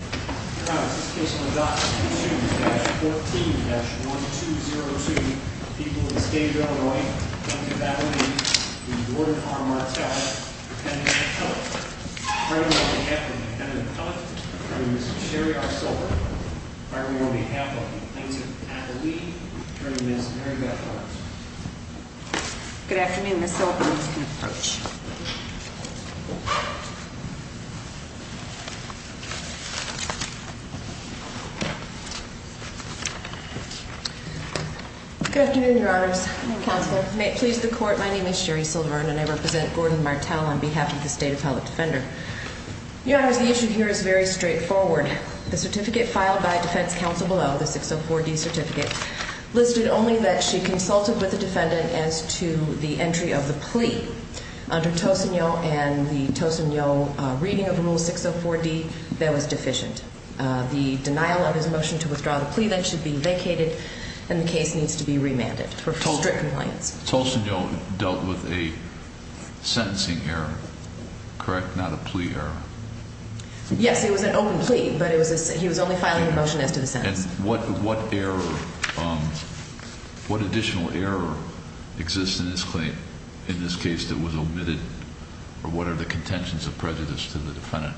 14-1202, people of the state of Illinois, county of Appalachia, in the ward of R. Martell, defendant of Kellogg's. Firing on behalf of the defendant of Kellogg's, attorney Mrs. Sherry R. Silver, firing on behalf of the plaintiff, Attalee, attorney Ms. Mary Beth Barnes. Good afternoon, Ms. Silver. May it please the court, my name is Sherry Silver and I represent Gordon Martell on behalf of the State Appellate Defender. Your honors, the issue here is very straightforward. The certificate filed by defense counsel below, the 604D certificate, listed only that she under Tosigno and the Tosigno reading of rule 604D that was deficient. The denial of his motion to withdraw the plea then should be vacated and the case needs to be remanded for strict compliance. Tosigno dealt with a sentencing error, correct? Not a plea error? Yes, it was an open plea, but he was only filing a motion as to the sentence. And what error, what additional error exists in this claim in this case that was omitted or what are the contentions of prejudice to the defendant?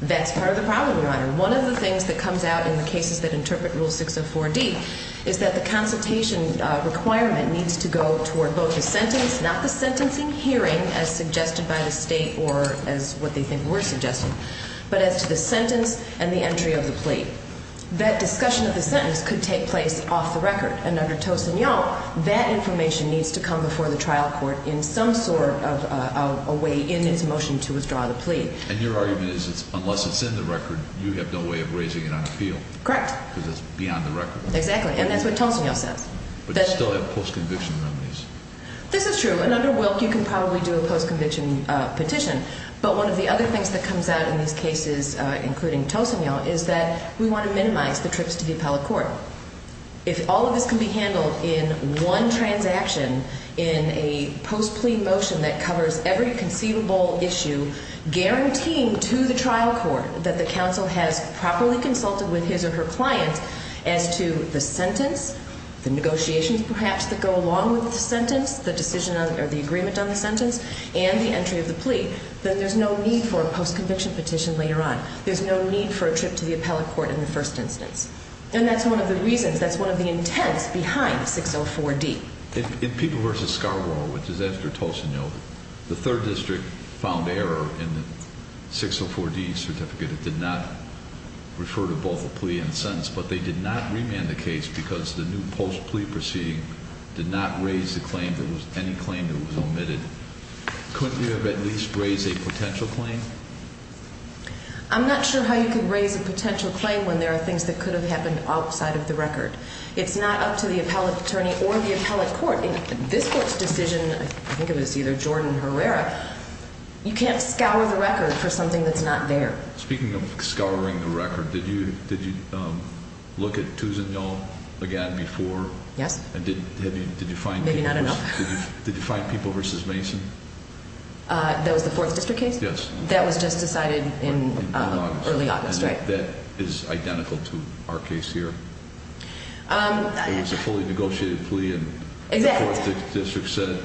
That's part of the problem, your honor. One of the things that comes out in the cases that interpret rule 604D is that the consultation requirement needs to go toward both the sentence, not the sentencing hearing as suggested by the state or as what they think were suggested, but as to the sentence and the entry of the plea. That discussion of the sentence could take place off the record. And under Tosigno, that information needs to come before the trial court in some sort of a way in its motion to withdraw the plea. And your argument is unless it's in the record, you have no way of raising it on appeal. Correct. Because it's beyond the record. Exactly. And that's what Tosigno says. But you still have post-conviction remedies. This is true. And under Wilk, you can probably do a post-conviction petition. But one of the other things that comes out in these cases, including Tosigno, is that we want to minimize the trips to the appellate court. If all of this can be handled in one transaction, in a post-plea motion that covers every conceivable issue, guaranteeing to the trial court that the counsel has properly consulted with his or her client as to the sentence, the negotiations perhaps that go along with the sentence, the entry of the plea, that there's no need for a post-conviction petition later on. There's no need for a trip to the appellate court in the first instance. And that's one of the reasons. That's one of the intents behind 604D. In People v. Scarborough, which is after Tosigno, the third district found error in the 604D certificate. It did not refer to both a plea and sentence. But they did not remand the case because the new post-plea proceeding did not raise the claim that was omitted. Couldn't you have at least raised a potential claim? I'm not sure how you could raise a potential claim when there are things that could have happened outside of the record. It's not up to the appellate attorney or the appellate court. In this court's decision, I think it was either Jordan or Herrera, you can't scour the record for something that's not there. Speaking of scouring the record, did you look at Tosigno again before? Yes. Maybe not enough. Did you find People v. Mason? That was the fourth district case? Yes. That was just decided in early August. And that is identical to our case here? It was a fully negotiated plea and the fourth district said,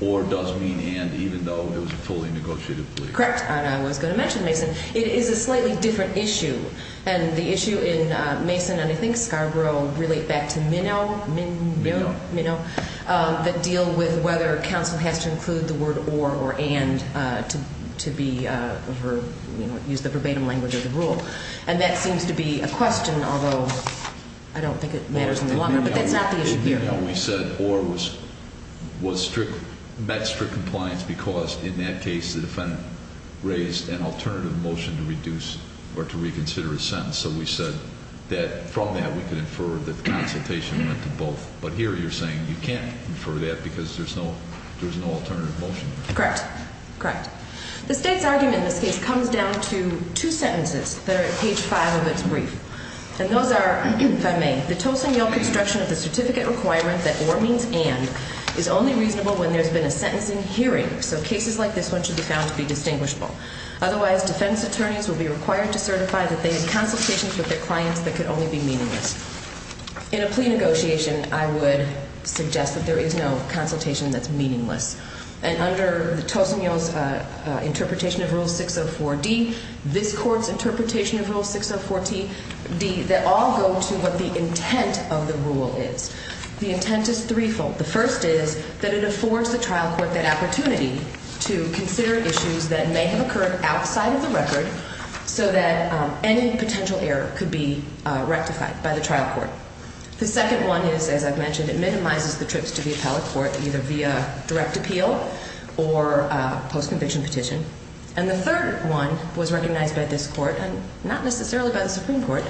or does mean and, even though it was a fully negotiated plea. Correct. And I was going to mention Mason. It is a slightly different issue. And the issue in Mason and I think Scarborough relate back to minnow that deal with whether counsel has to include the word or or and to use the verbatim language of the rule. And that seems to be a question, although I don't think it matters any longer, but that's not the issue here. In minnow we said or met strict compliance because in that case the defendant raised an alternative motion to reduce or to reconsider a sentence. So we said that from that we could infer that the consultation went to both. But here you're saying you can't infer that because there's no alternative motion. Correct. Correct. The state's argument in this case comes down to two sentences that are at page five of its brief. And those are, if I may, the Tosigno construction of the certificate requirement that or means and is only reasonable when there's been a sentence in hearing. So cases like this one should be found to be distinguishable. Otherwise, defense attorneys will be required to certify that they had consultations with their clients that could only be meaningless. In a plea negotiation, I would suggest that there is no consultation that's meaningless. And under the Tosigno's interpretation of Rule 604D, this court's interpretation of Rule 604D, they all go to what the intent of the rule is. The intent is threefold. The first is that it affords the trial court that opportunity to consider issues that may have occurred outside of the record so that any potential error could be rectified by the trial court. The second one is, as I've mentioned, it minimizes the trips to the appellate court, either via direct appeal or post-conviction petition. And the third one was recognized by this court and not necessarily by the Supreme Court,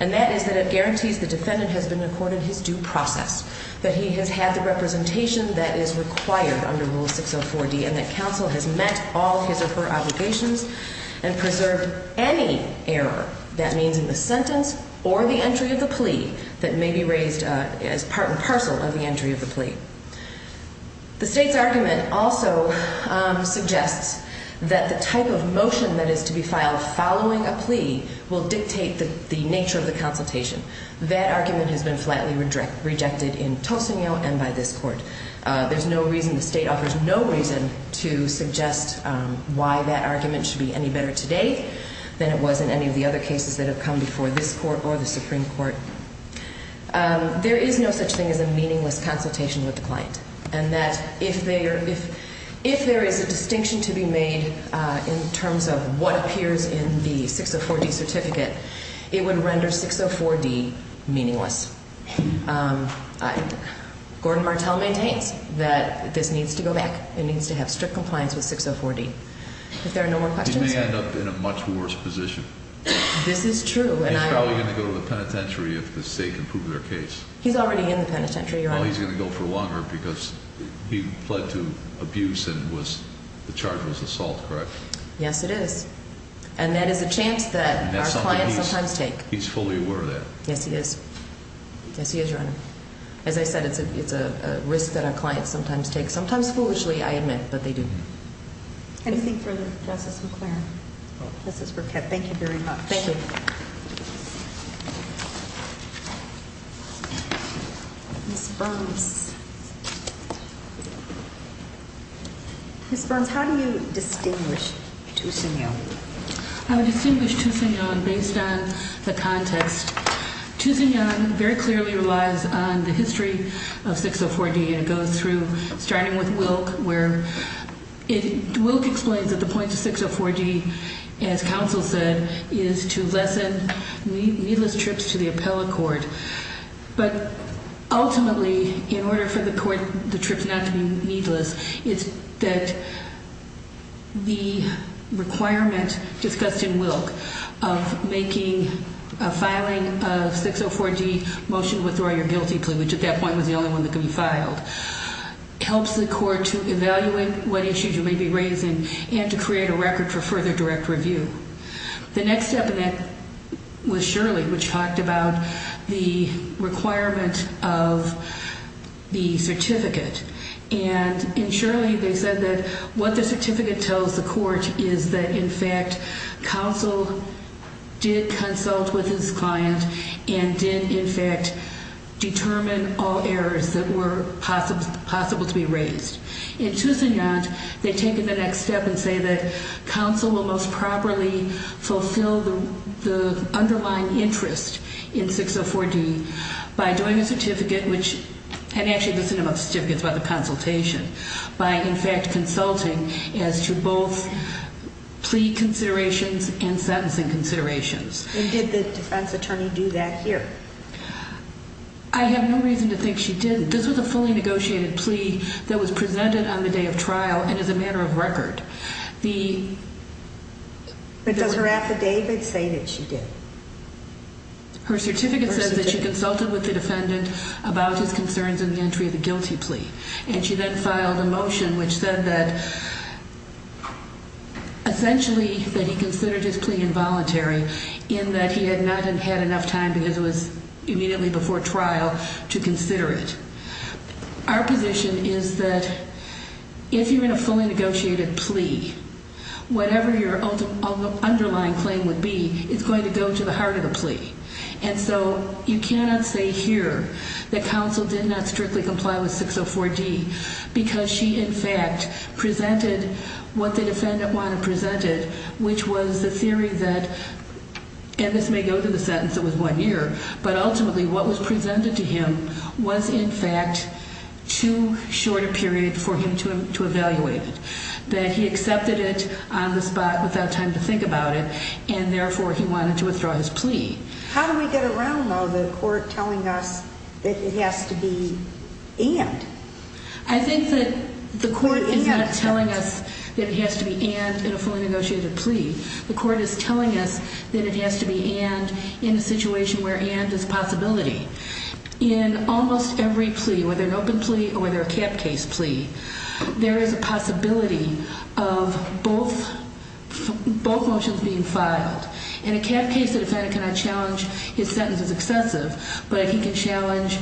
and that is that it guarantees the defendant has been accorded his due process, that he has had the representation that is required under Rule 604D, and that counsel has met all his or her obligations and preserved any error, that means in the sentence or the entry of the plea, that may be raised as part and parcel of the entry of the plea. The state's argument also suggests that the type of motion that is to be filed following a plea will dictate the nature of the consultation. That argument has been flatly rejected in Tosigno and by this court. There's no reason, the state offers no reason to suggest why that argument should be any better today than it was in any of the other cases that have come before this court or the Supreme Court. There is no such thing as a meaningless consultation with the client, and that if there is a distinction to be made in terms of what appears in the 604D certificate, it would render 604D meaningless. Gordon Martel maintains that this needs to go back. It needs to have strict compliance with 604D. If there are no more questions. He may end up in a much worse position. This is true. He's probably going to go to the penitentiary if the state can prove their case. He's already in the penitentiary, Your Honor. Well, he's going to go for longer because he pled to abuse and the charge was assault, correct? Yes, it is. And that is a chance that our clients sometimes take. He's fully aware of that. Yes, he is. Yes, he is, Your Honor. As I said, it's a risk that our clients sometimes take, sometimes foolishly, I admit, but they do. Anything further? Justice McClaren. Justice Burkett. Thank you very much. Thank you. Ms. Burns. Ms. Burns, how do you distinguish two senior? I would distinguish two senior based on the context. Two senior very clearly relies on the history of 604D and it goes through, starting with Wilk, where Wilk explains that the point of 604D, as counsel said, is to lessen needless trips to the appellate court. But ultimately, in order for the court, the trips not to be needless, it's that the requirement discussed in Wilk of making a filing of 604D motion withdraw your guilty plea, which at that point was the only one that could be filed, helps the court to evaluate what issues you may be raising and to create a record for further direct review. The next step in that was Shirley, which talked about the requirement of the certificate. And in Shirley, they said that what the certificate tells the court is that, in fact, counsel did consult with his client and did, in fact, determine all errors that were possible to be raised. In Toussignant, they take the next step and say that counsel will most properly fulfill the underlying interest in 604D by doing a certificate, which, and actually this is one of the certificates about the consultation, by, in fact, consulting as to both plea considerations and sentencing considerations. And did the defense attorney do that here? I have no reason to think she didn't. This was a fully negotiated plea that was presented on the day of trial and is a matter of record. But does her affidavit say that she did? Her certificate says that she consulted with the defendant about his concerns in the entry of the guilty plea. And she then filed a motion which said that essentially that he considered his plea involuntary in that he had not had enough time because it was immediately before trial to consider it. Our position is that if you're in a fully negotiated plea, whatever your underlying claim would be is going to go to the heart of the plea. And so you cannot say here that counsel did not strictly comply with 604D because she, in fact, presented what the defendant wanted presented, which was the theory that, and this may go to the sentence that was one year, but ultimately what was presented to him was, in fact, too short a period for him to evaluate it, that he accepted it on the spot without time to think about it, and therefore he wanted to withdraw his plea. How do we get around, though, the court telling us that it has to be and? I think that the court is not telling us that it has to be and in a fully negotiated plea. The court is telling us that it has to be and in a situation where and is a possibility. In almost every plea, whether an open plea or whether a cap case plea, there is a possibility of both motions being filed. In a cap case, the defendant cannot challenge his sentence as excessive, but he can challenge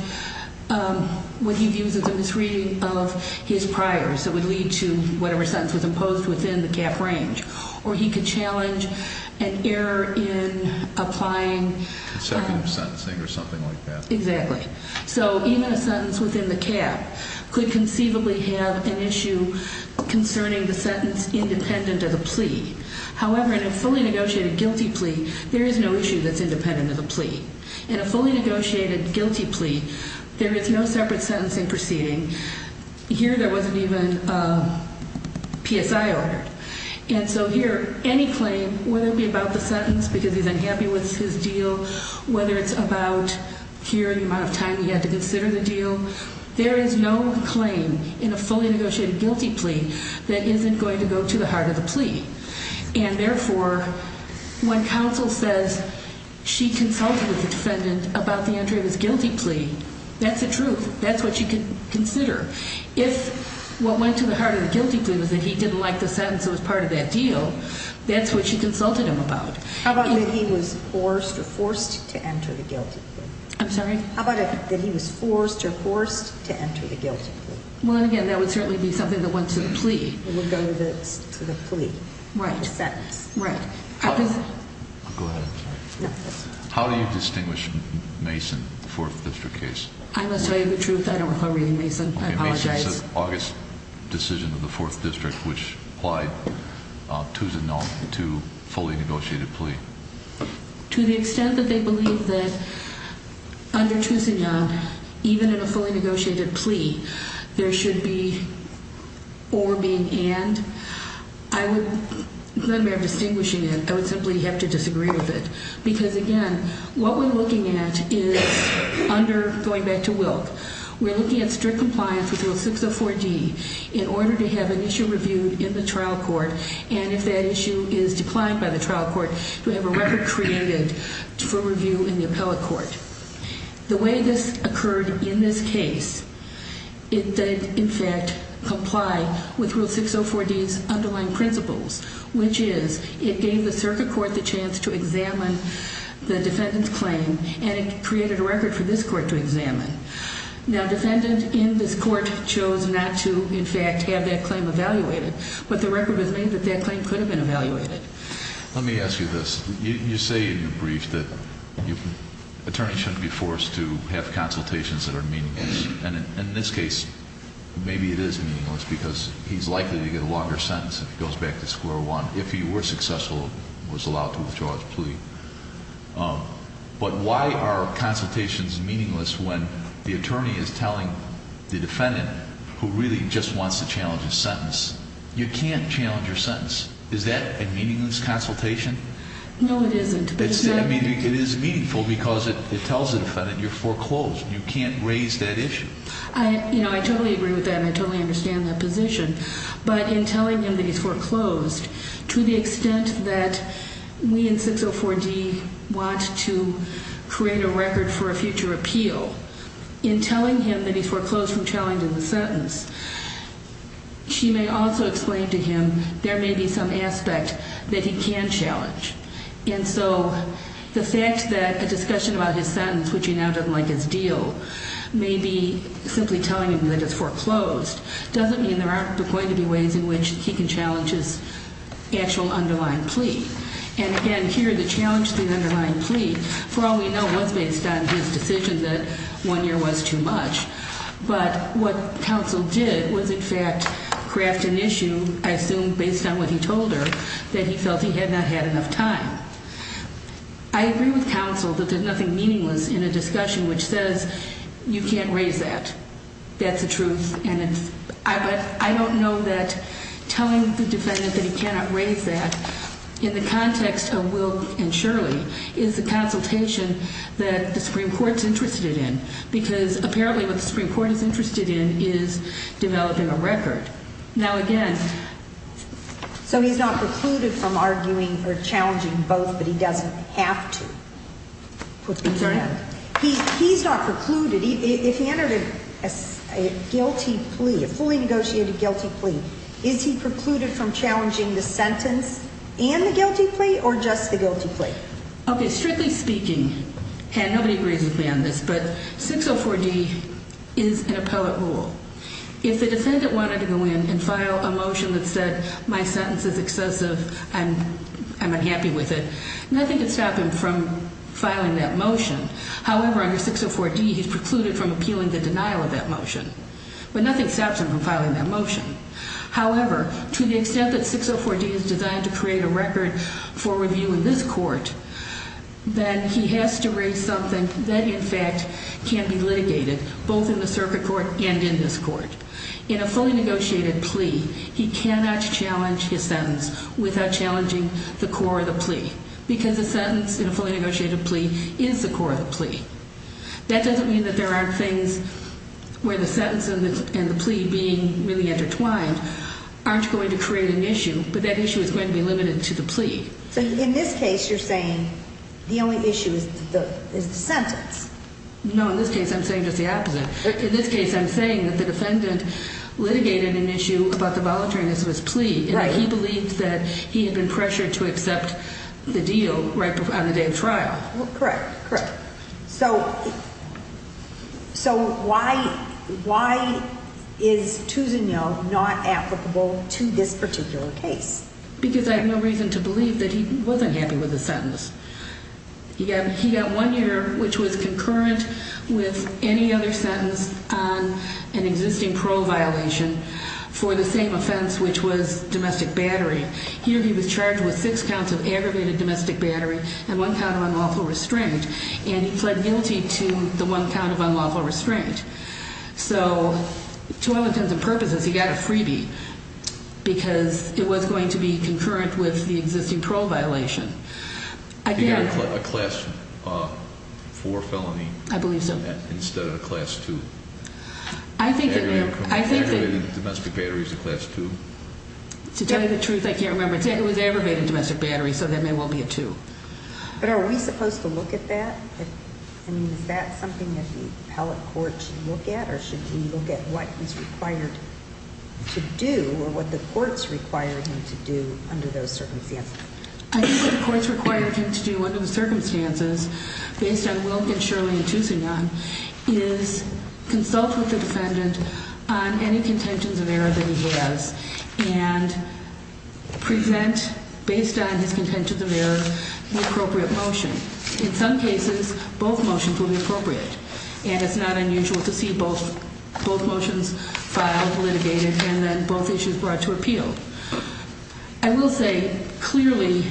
what he views as a misreading of his prior. So it would lead to whatever sentence was imposed within the cap range. Or he could challenge an error in applying. Consecutive sentencing or something like that. Exactly. So even a sentence within the cap could conceivably have an issue concerning the sentence independent of the plea. However, in a fully negotiated guilty plea, there is no issue that's independent of the plea. In a fully negotiated guilty plea, there is no separate sentencing proceeding. Here, there wasn't even a PSI ordered. And so here, any claim, whether it be about the sentence because he's unhappy with his deal, whether it's about here the amount of time he had to consider the deal, there is no claim in a fully negotiated guilty plea that isn't going to go to the heart of the plea. And therefore, when counsel says she consulted with the defendant about the entry of his guilty plea, that's the truth. That's what she could consider. If what went to the heart of the guilty plea was that he didn't like the sentence that was part of that deal, that's what she consulted him about. How about if he was forced or forced to enter the guilty plea? I'm sorry? How about if he was forced or forced to enter the guilty plea? Well, again, that would certainly be something that went to the plea. It would go to the plea. Right. The sentence. Right. I'll go ahead. How do you distinguish Mason, the 4th District case? I must tell you the truth. I don't recall reading Mason. I apologize. Okay. Mason said August decision of the 4th District, which applied to Tuzanon to fully negotiated plea. To the extent that they believe that under Tuzanon, even in a fully negotiated plea, there should be or being and, I would, let alone distinguishing it, I would simply have to disagree with it. Because, again, what we're looking at is under, going back to Wilk, we're looking at strict compliance with Rule 604D in order to have an issue reviewed in the trial court. And if that issue is declined by the trial court, we have a record created for review in the appellate court. The way this occurred in this case, it did, in fact, comply with Rule 604D's underlying principles, which is it gave the circuit court the chance to examine the defendant's claim, and it created a record for this court to examine. Now, defendant in this court chose not to, in fact, have that claim evaluated. But the record was made that that claim could have been evaluated. Let me ask you this. You say in your brief that attorneys shouldn't be forced to have consultations that are meaningless. And in this case, maybe it is meaningless because he's likely to get a longer sentence if he goes back to square one. If he were successful and was allowed to withdraw his plea. But why are consultations meaningless when the attorney is telling the defendant who really just wants to challenge his sentence? You can't challenge your sentence. Is that a meaningless consultation? No, it isn't. I mean, it is meaningful because it tells the defendant you're foreclosed. You can't raise that issue. I totally agree with that, and I totally understand that position. But in telling him that he's foreclosed, to the extent that we in 604D want to create a record for a future appeal, in telling him that he's foreclosed from challenging the sentence, she may also explain to him there may be some aspect that he can challenge. And so the fact that a discussion about his sentence, which he now doesn't like his deal, may be simply telling him that it's foreclosed doesn't mean there aren't going to be ways in which he can challenge his actual underlying plea. And, again, here the challenge to the underlying plea, for all we know, was based on his decision that one year was too much. But what counsel did was, in fact, craft an issue, I assume based on what he told her, that he felt he had not had enough time. I agree with counsel that there's nothing meaningless in a discussion which says you can't raise that. That's the truth. But I don't know that telling the defendant that he cannot raise that, in the context of Wilk and Shirley, is the consultation that the Supreme Court's interested in. Because, apparently, what the Supreme Court is interested in is developing a record. Now, again. So he's not precluded from arguing or challenging both, but he doesn't have to? I'm sorry? He's not precluded. If he entered a guilty plea, a fully negotiated guilty plea, is he precluded from challenging the sentence and the guilty plea or just the guilty plea? Okay, strictly speaking, and nobody agrees with me on this, but 604D is an appellate rule. If the defendant wanted to go in and file a motion that said my sentence is excessive and I'm unhappy with it, nothing could stop him from filing that motion. However, under 604D, he's precluded from appealing the denial of that motion. But nothing stops him from filing that motion. However, to the extent that 604D is designed to create a record for review in this court, then he has to raise something that, in fact, can be litigated, both in the circuit court and in this court. In a fully negotiated plea, he cannot challenge his sentence without challenging the core of the plea. Because the sentence in a fully negotiated plea is the core of the plea. That doesn't mean that there aren't things where the sentence and the plea being really intertwined aren't going to create an issue, but that issue is going to be limited to the plea. So in this case, you're saying the only issue is the sentence? No, in this case, I'm saying just the opposite. In this case, I'm saying that the defendant litigated an issue about the voluntariness of his plea, and that he believed that he had been pressured to accept the deal right on the day of trial. Correct, correct. So why is 2-0 not applicable to this particular case? Because I have no reason to believe that he wasn't happy with the sentence. He got one year, which was concurrent with any other sentence on an existing parole violation, for the same offense, which was domestic battery. Here he was charged with six counts of aggravated domestic battery and one count of unlawful restraint, and he pled guilty to the one count of unlawful restraint. So to all intents and purposes, he got a freebie, because it was going to be concurrent with the existing parole violation. Did he get a class 4 felony instead of a class 2? Aggravated domestic battery is a class 2? To tell you the truth, I can't remember. It was aggravated domestic battery, so that may well be a 2. But are we supposed to look at that? I mean, is that something that the appellate court should look at, or should we look at what he's required to do or what the courts require him to do under those circumstances? I think what the courts require him to do under the circumstances, based on Wilk and Shirley and Toussignan, is consult with the defendant on any contentions of error that he has and present, based on his contentions of error, the appropriate motion. In some cases, both motions will be appropriate, and it's not unusual to see both motions filed, litigated, and then both issues brought to appeal. I will say, clearly,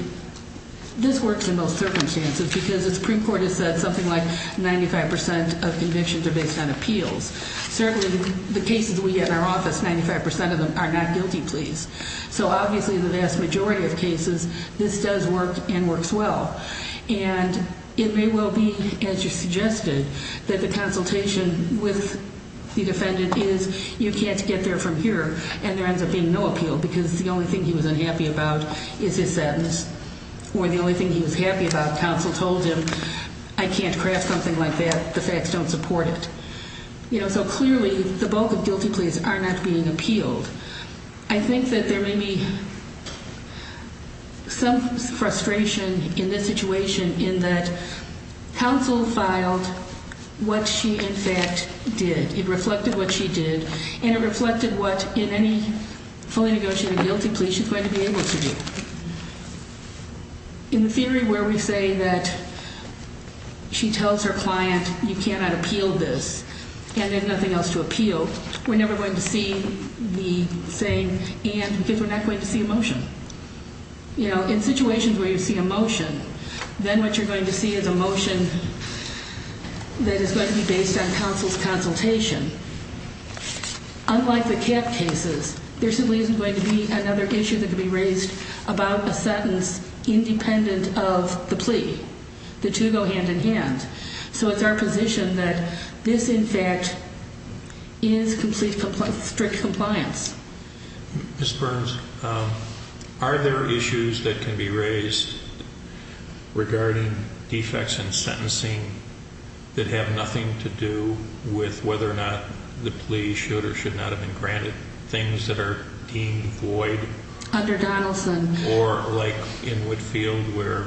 this works in most circumstances, because the Supreme Court has said something like 95% of convictions are based on appeals. Certainly, the cases we get in our office, 95% of them are not guilty pleas. So obviously, in the vast majority of cases, this does work and works well. And it may well be, as you suggested, that the consultation with the defendant is, you can't get there from here, and there ends up being no appeal because the only thing he was unhappy about is his sentence, or the only thing he was happy about, counsel told him, I can't craft something like that, the facts don't support it. So clearly, the bulk of guilty pleas are not being appealed. I think that there may be some frustration in this situation, in that counsel filed what she, in fact, did. It reflected what she did, and it reflected what, in any fully negotiated guilty plea, she's going to be able to do. In the theory where we say that she tells her client, you cannot appeal this, and there's nothing else to appeal, we're never going to see the same, because we're not going to see a motion. In situations where you see a motion, then what you're going to see is a motion that is going to be based on counsel's consultation. Unlike the cap cases, there simply isn't going to be another issue that can be raised about a sentence independent of the plea. The two go hand in hand. So it's our position that this, in fact, is strict compliance. Ms. Burns, are there issues that can be raised regarding defects in sentencing that have nothing to do with whether or not the plea should or should not have been granted, things that are deemed void? Under Donaldson. Or like in Whitfield where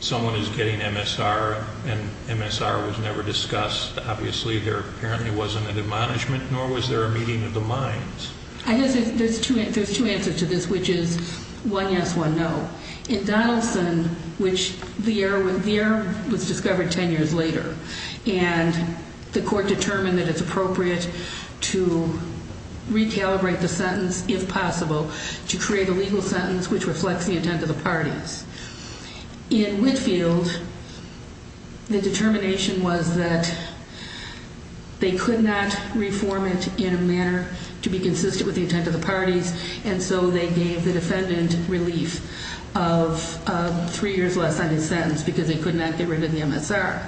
someone is getting MSR and MSR was never discussed, obviously there apparently wasn't a demonishment, nor was there a meeting of the minds. I guess there's two answers to this, which is one yes, one no. In Donaldson, which the error was discovered ten years later, and the court determined that it's appropriate to recalibrate the sentence, if possible, to create a legal sentence which reflects the intent of the parties. In Whitfield, the determination was that they could not reform it in a manner to be consistent with the intent of the parties, and so they gave the defendant relief of three years less on his sentence because they could not get rid of the MSR.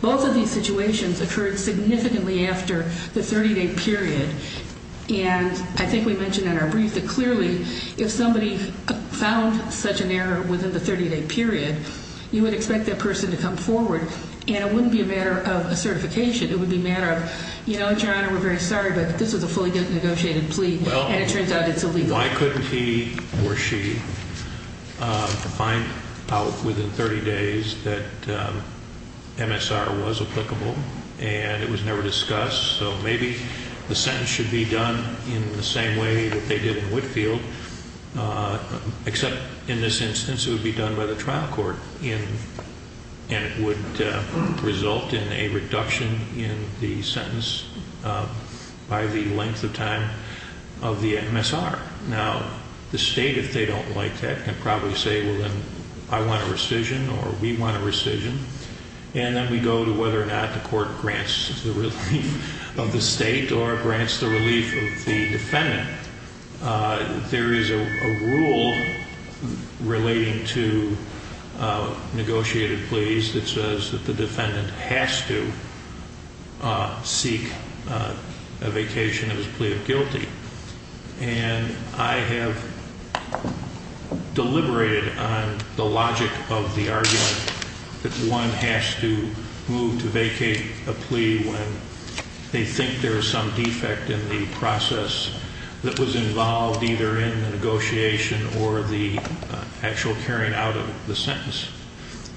Both of these situations occurred significantly after the 30-day period, and I think we mentioned in our brief that clearly if somebody found such an error within the 30-day period, you would expect that person to come forward, and it wouldn't be a matter of a certification. It would be a matter of, you know, Your Honor, we're very sorry, but this was a fully negotiated plea, and it turns out it's illegal. Why couldn't he or she find out within 30 days that MSR was applicable and it was never discussed? So maybe the sentence should be done in the same way that they did in Whitfield, except in this instance it would be done by the trial court, and it would result in a reduction in the sentence by the length of time of the MSR. Now, the State, if they don't like that, can probably say, well, then I want a rescission or we want a rescission, and then we go to whether or not the court grants the relief of the State or grants the relief of the defendant. There is a rule relating to negotiated pleas that says that the defendant has to seek a vacation of his plea of guilty, and I have deliberated on the logic of the argument that one has to move to vacate a plea when they think there is some defect in the process that was involved either in the negotiation or the actual carrying out of the sentence.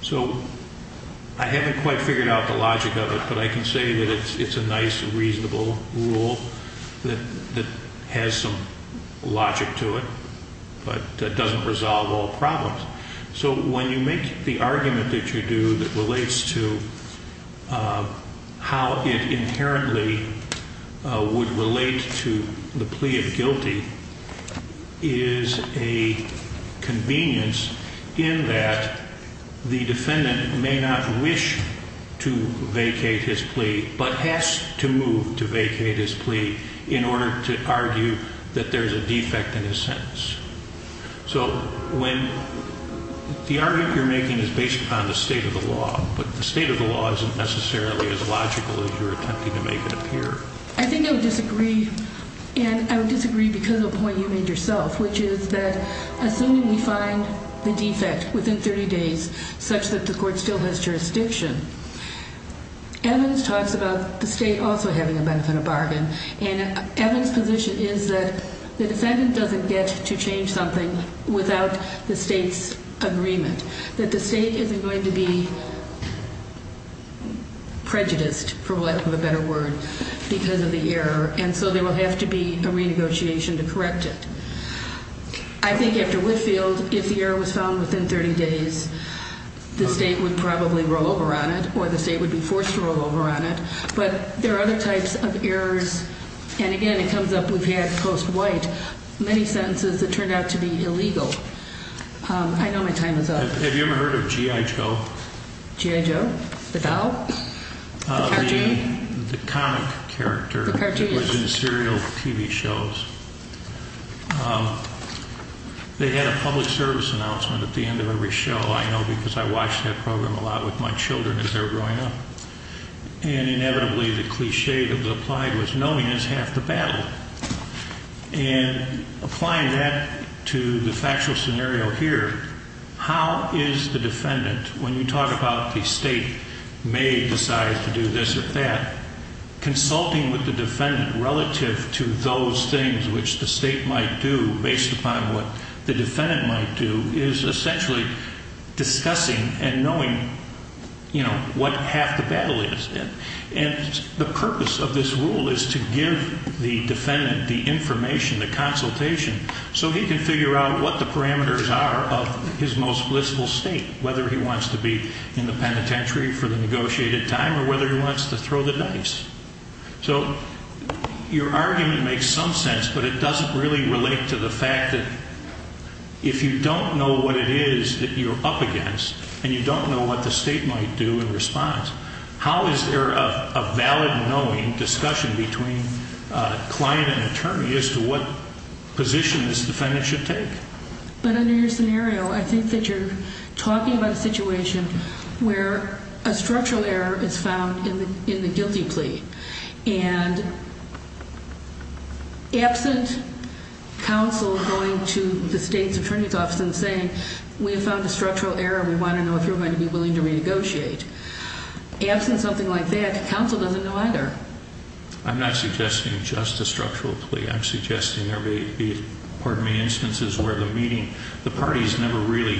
So I haven't quite figured out the logic of it, but I can say that it's a nice, reasonable rule that has some logic to it, but it doesn't resolve all problems. So when you make the argument that you do that relates to how it inherently would relate to the plea of guilty, it is a convenience in that the defendant may not wish to vacate his plea but has to move to vacate his plea in order to argue that there is a defect in his sentence. So when the argument you're making is based upon the state of the law, but the state of the law isn't necessarily as logical as you're attempting to make it appear. I think I would disagree, and I would disagree because of a point you made yourself, which is that assuming we find the defect within 30 days such that the court still has jurisdiction, evidence talks about the state also having a benefit of bargain, and evidence position is that the defendant doesn't get to change something without the state's agreement, that the state isn't going to be prejudiced, for lack of a better word, because of the error, and so there will have to be a renegotiation to correct it. I think after Whitfield, if the error was found within 30 days, the state would probably roll over on it or the state would be forced to roll over on it, but there are other types of errors, and again it comes up, we've had post-White, many sentences that turned out to be illegal. I know my time is up. Have you ever heard of G.I. Joe? G.I. Joe? The doll? The cartoon? The comic character. The cartoon. It was in serial TV shows. They had a public service announcement at the end of every show, I know, because I watched that program a lot with my children as they were growing up, and inevitably the cliché that was applied was knowing is half the battle, and applying that to the factual scenario here, how is the defendant, when you talk about the state may decide to do this or that, consulting with the defendant relative to those things which the state might do based upon what the defendant might do is essentially discussing and knowing what half the battle is, and the purpose of this rule is to give the defendant the information, the consultation, so he can figure out what the parameters are of his most blissful state, whether he wants to be in the penitentiary for the negotiated time or whether he wants to throw the dice. So your argument makes some sense, but it doesn't really relate to the fact that if you don't know what it is that you're up against and you don't know what the state might do in response, how is there a valid knowing discussion between client and attorney as to what position this defendant should take? But under your scenario, I think that you're talking about a situation where a structural error is found in the guilty plea, and absent counsel going to the state's attorney's office and saying, we have found a structural error and we want to know if you're going to be willing to renegotiate. Absent something like that, the counsel doesn't know either. I'm not suggesting just a structural plea. I'm suggesting there may be instances where the parties never really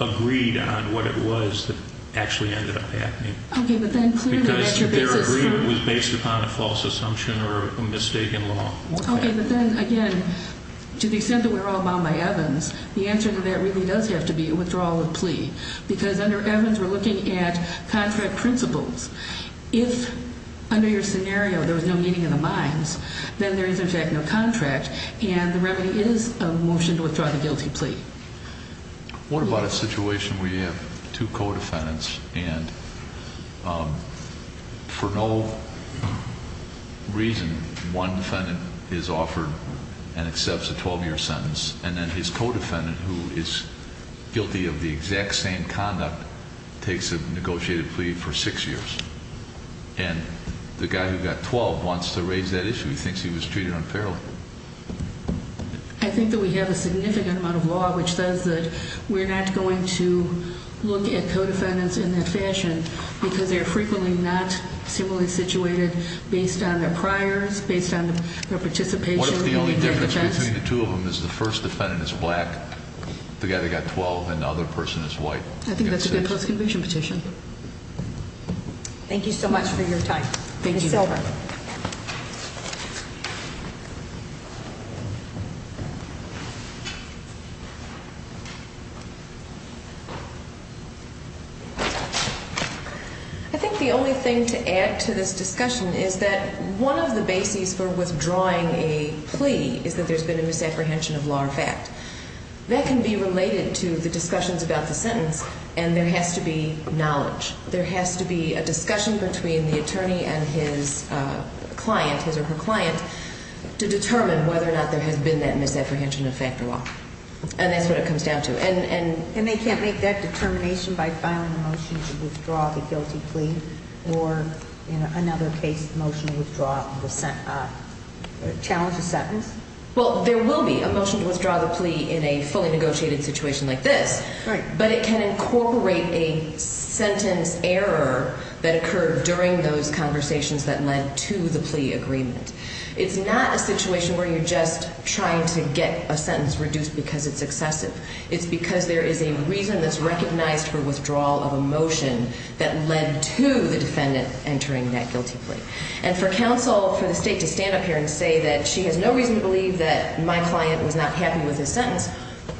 agreed on what it was that actually ended up happening because their agreement was based upon a false assumption or a mistaken law. Okay, but then again, to the extent that we're all bound by Evans, the answer to that really does have to be a withdrawal of plea because under Evans we're looking at contract principles. If under your scenario there was no meeting of the minds, then there is in fact no contract, and the remedy is a motion to withdraw the guilty plea. What about a situation where you have two co-defendants and for no reason one defendant is offered and accepts a 12-year sentence and then his co-defendant who is guilty of the exact same conduct takes a negotiated plea for six years and the guy who got 12 wants to raise that issue. He thinks he was treated unfairly. I think that we have a significant amount of law which says that we're not going to look at co-defendants in that fashion because they're frequently not similarly situated based on their priors, based on their participation. What if the only difference between the two of them is the first defendant is black, the guy that got 12, and the other person is white? I think that's a good post-conviction petition. Thank you so much for your time. I think the only thing to add to this discussion is that one of the bases for withdrawing a plea is that there's been a misapprehension of law or fact. That can be related to the discussions about the sentence, and there has to be knowledge. There has to be a discussion between the attorney and his client, his or her client, to determine whether or not there has been that misapprehension of fact or law. And that's what it comes down to. And they can't make that determination by filing a motion to withdraw the guilty plea or, in another case, a motion to withdraw or challenge a sentence. Well, there will be a motion to withdraw the plea in a fully negotiated situation like this. Right. But it can incorporate a sentence error that occurred during those conversations that led to the plea agreement. It's not a situation where you're just trying to get a sentence reduced because it's excessive. It's because there is a reason that's recognized for withdrawal of a motion that led to the defendant entering that guilty plea. And for counsel, for the state to stand up here and say that she has no reason to believe that my client was not happy with his sentence,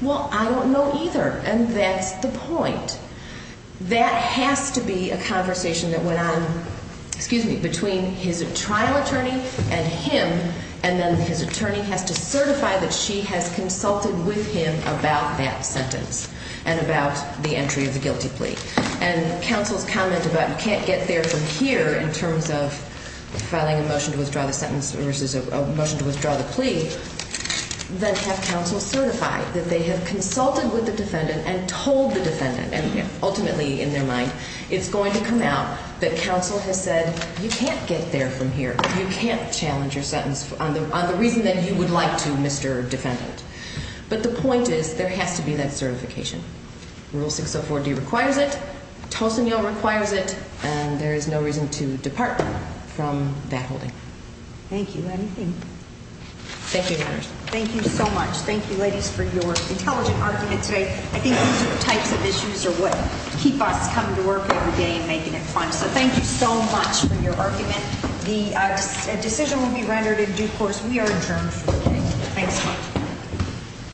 well, I don't know either, and that's the point. That has to be a conversation that went on between his trial attorney and him, and then his attorney has to certify that she has consulted with him about that sentence and about the entry of the guilty plea. And counsel's comment about you can't get there from here in terms of filing a motion to withdraw the sentence versus a motion to withdraw the plea, then have counsel certify that they have consulted with the defendant and told the defendant, and ultimately in their mind it's going to come out that counsel has said you can't get there from here, you can't challenge your sentence on the reason that you would like to, Mr. Defendant. But the point is there has to be that certification. Rule 604D requires it. Tocino requires it. And there is no reason to depart from that holding. Thank you. Thank you. Thank you so much. Thank you, ladies, for your intelligent argument today. I think these types of issues are what keep us coming to work every day and making it fun. So thank you so much for your argument. The decision will be rendered in due course. We are adjourned. Thanks.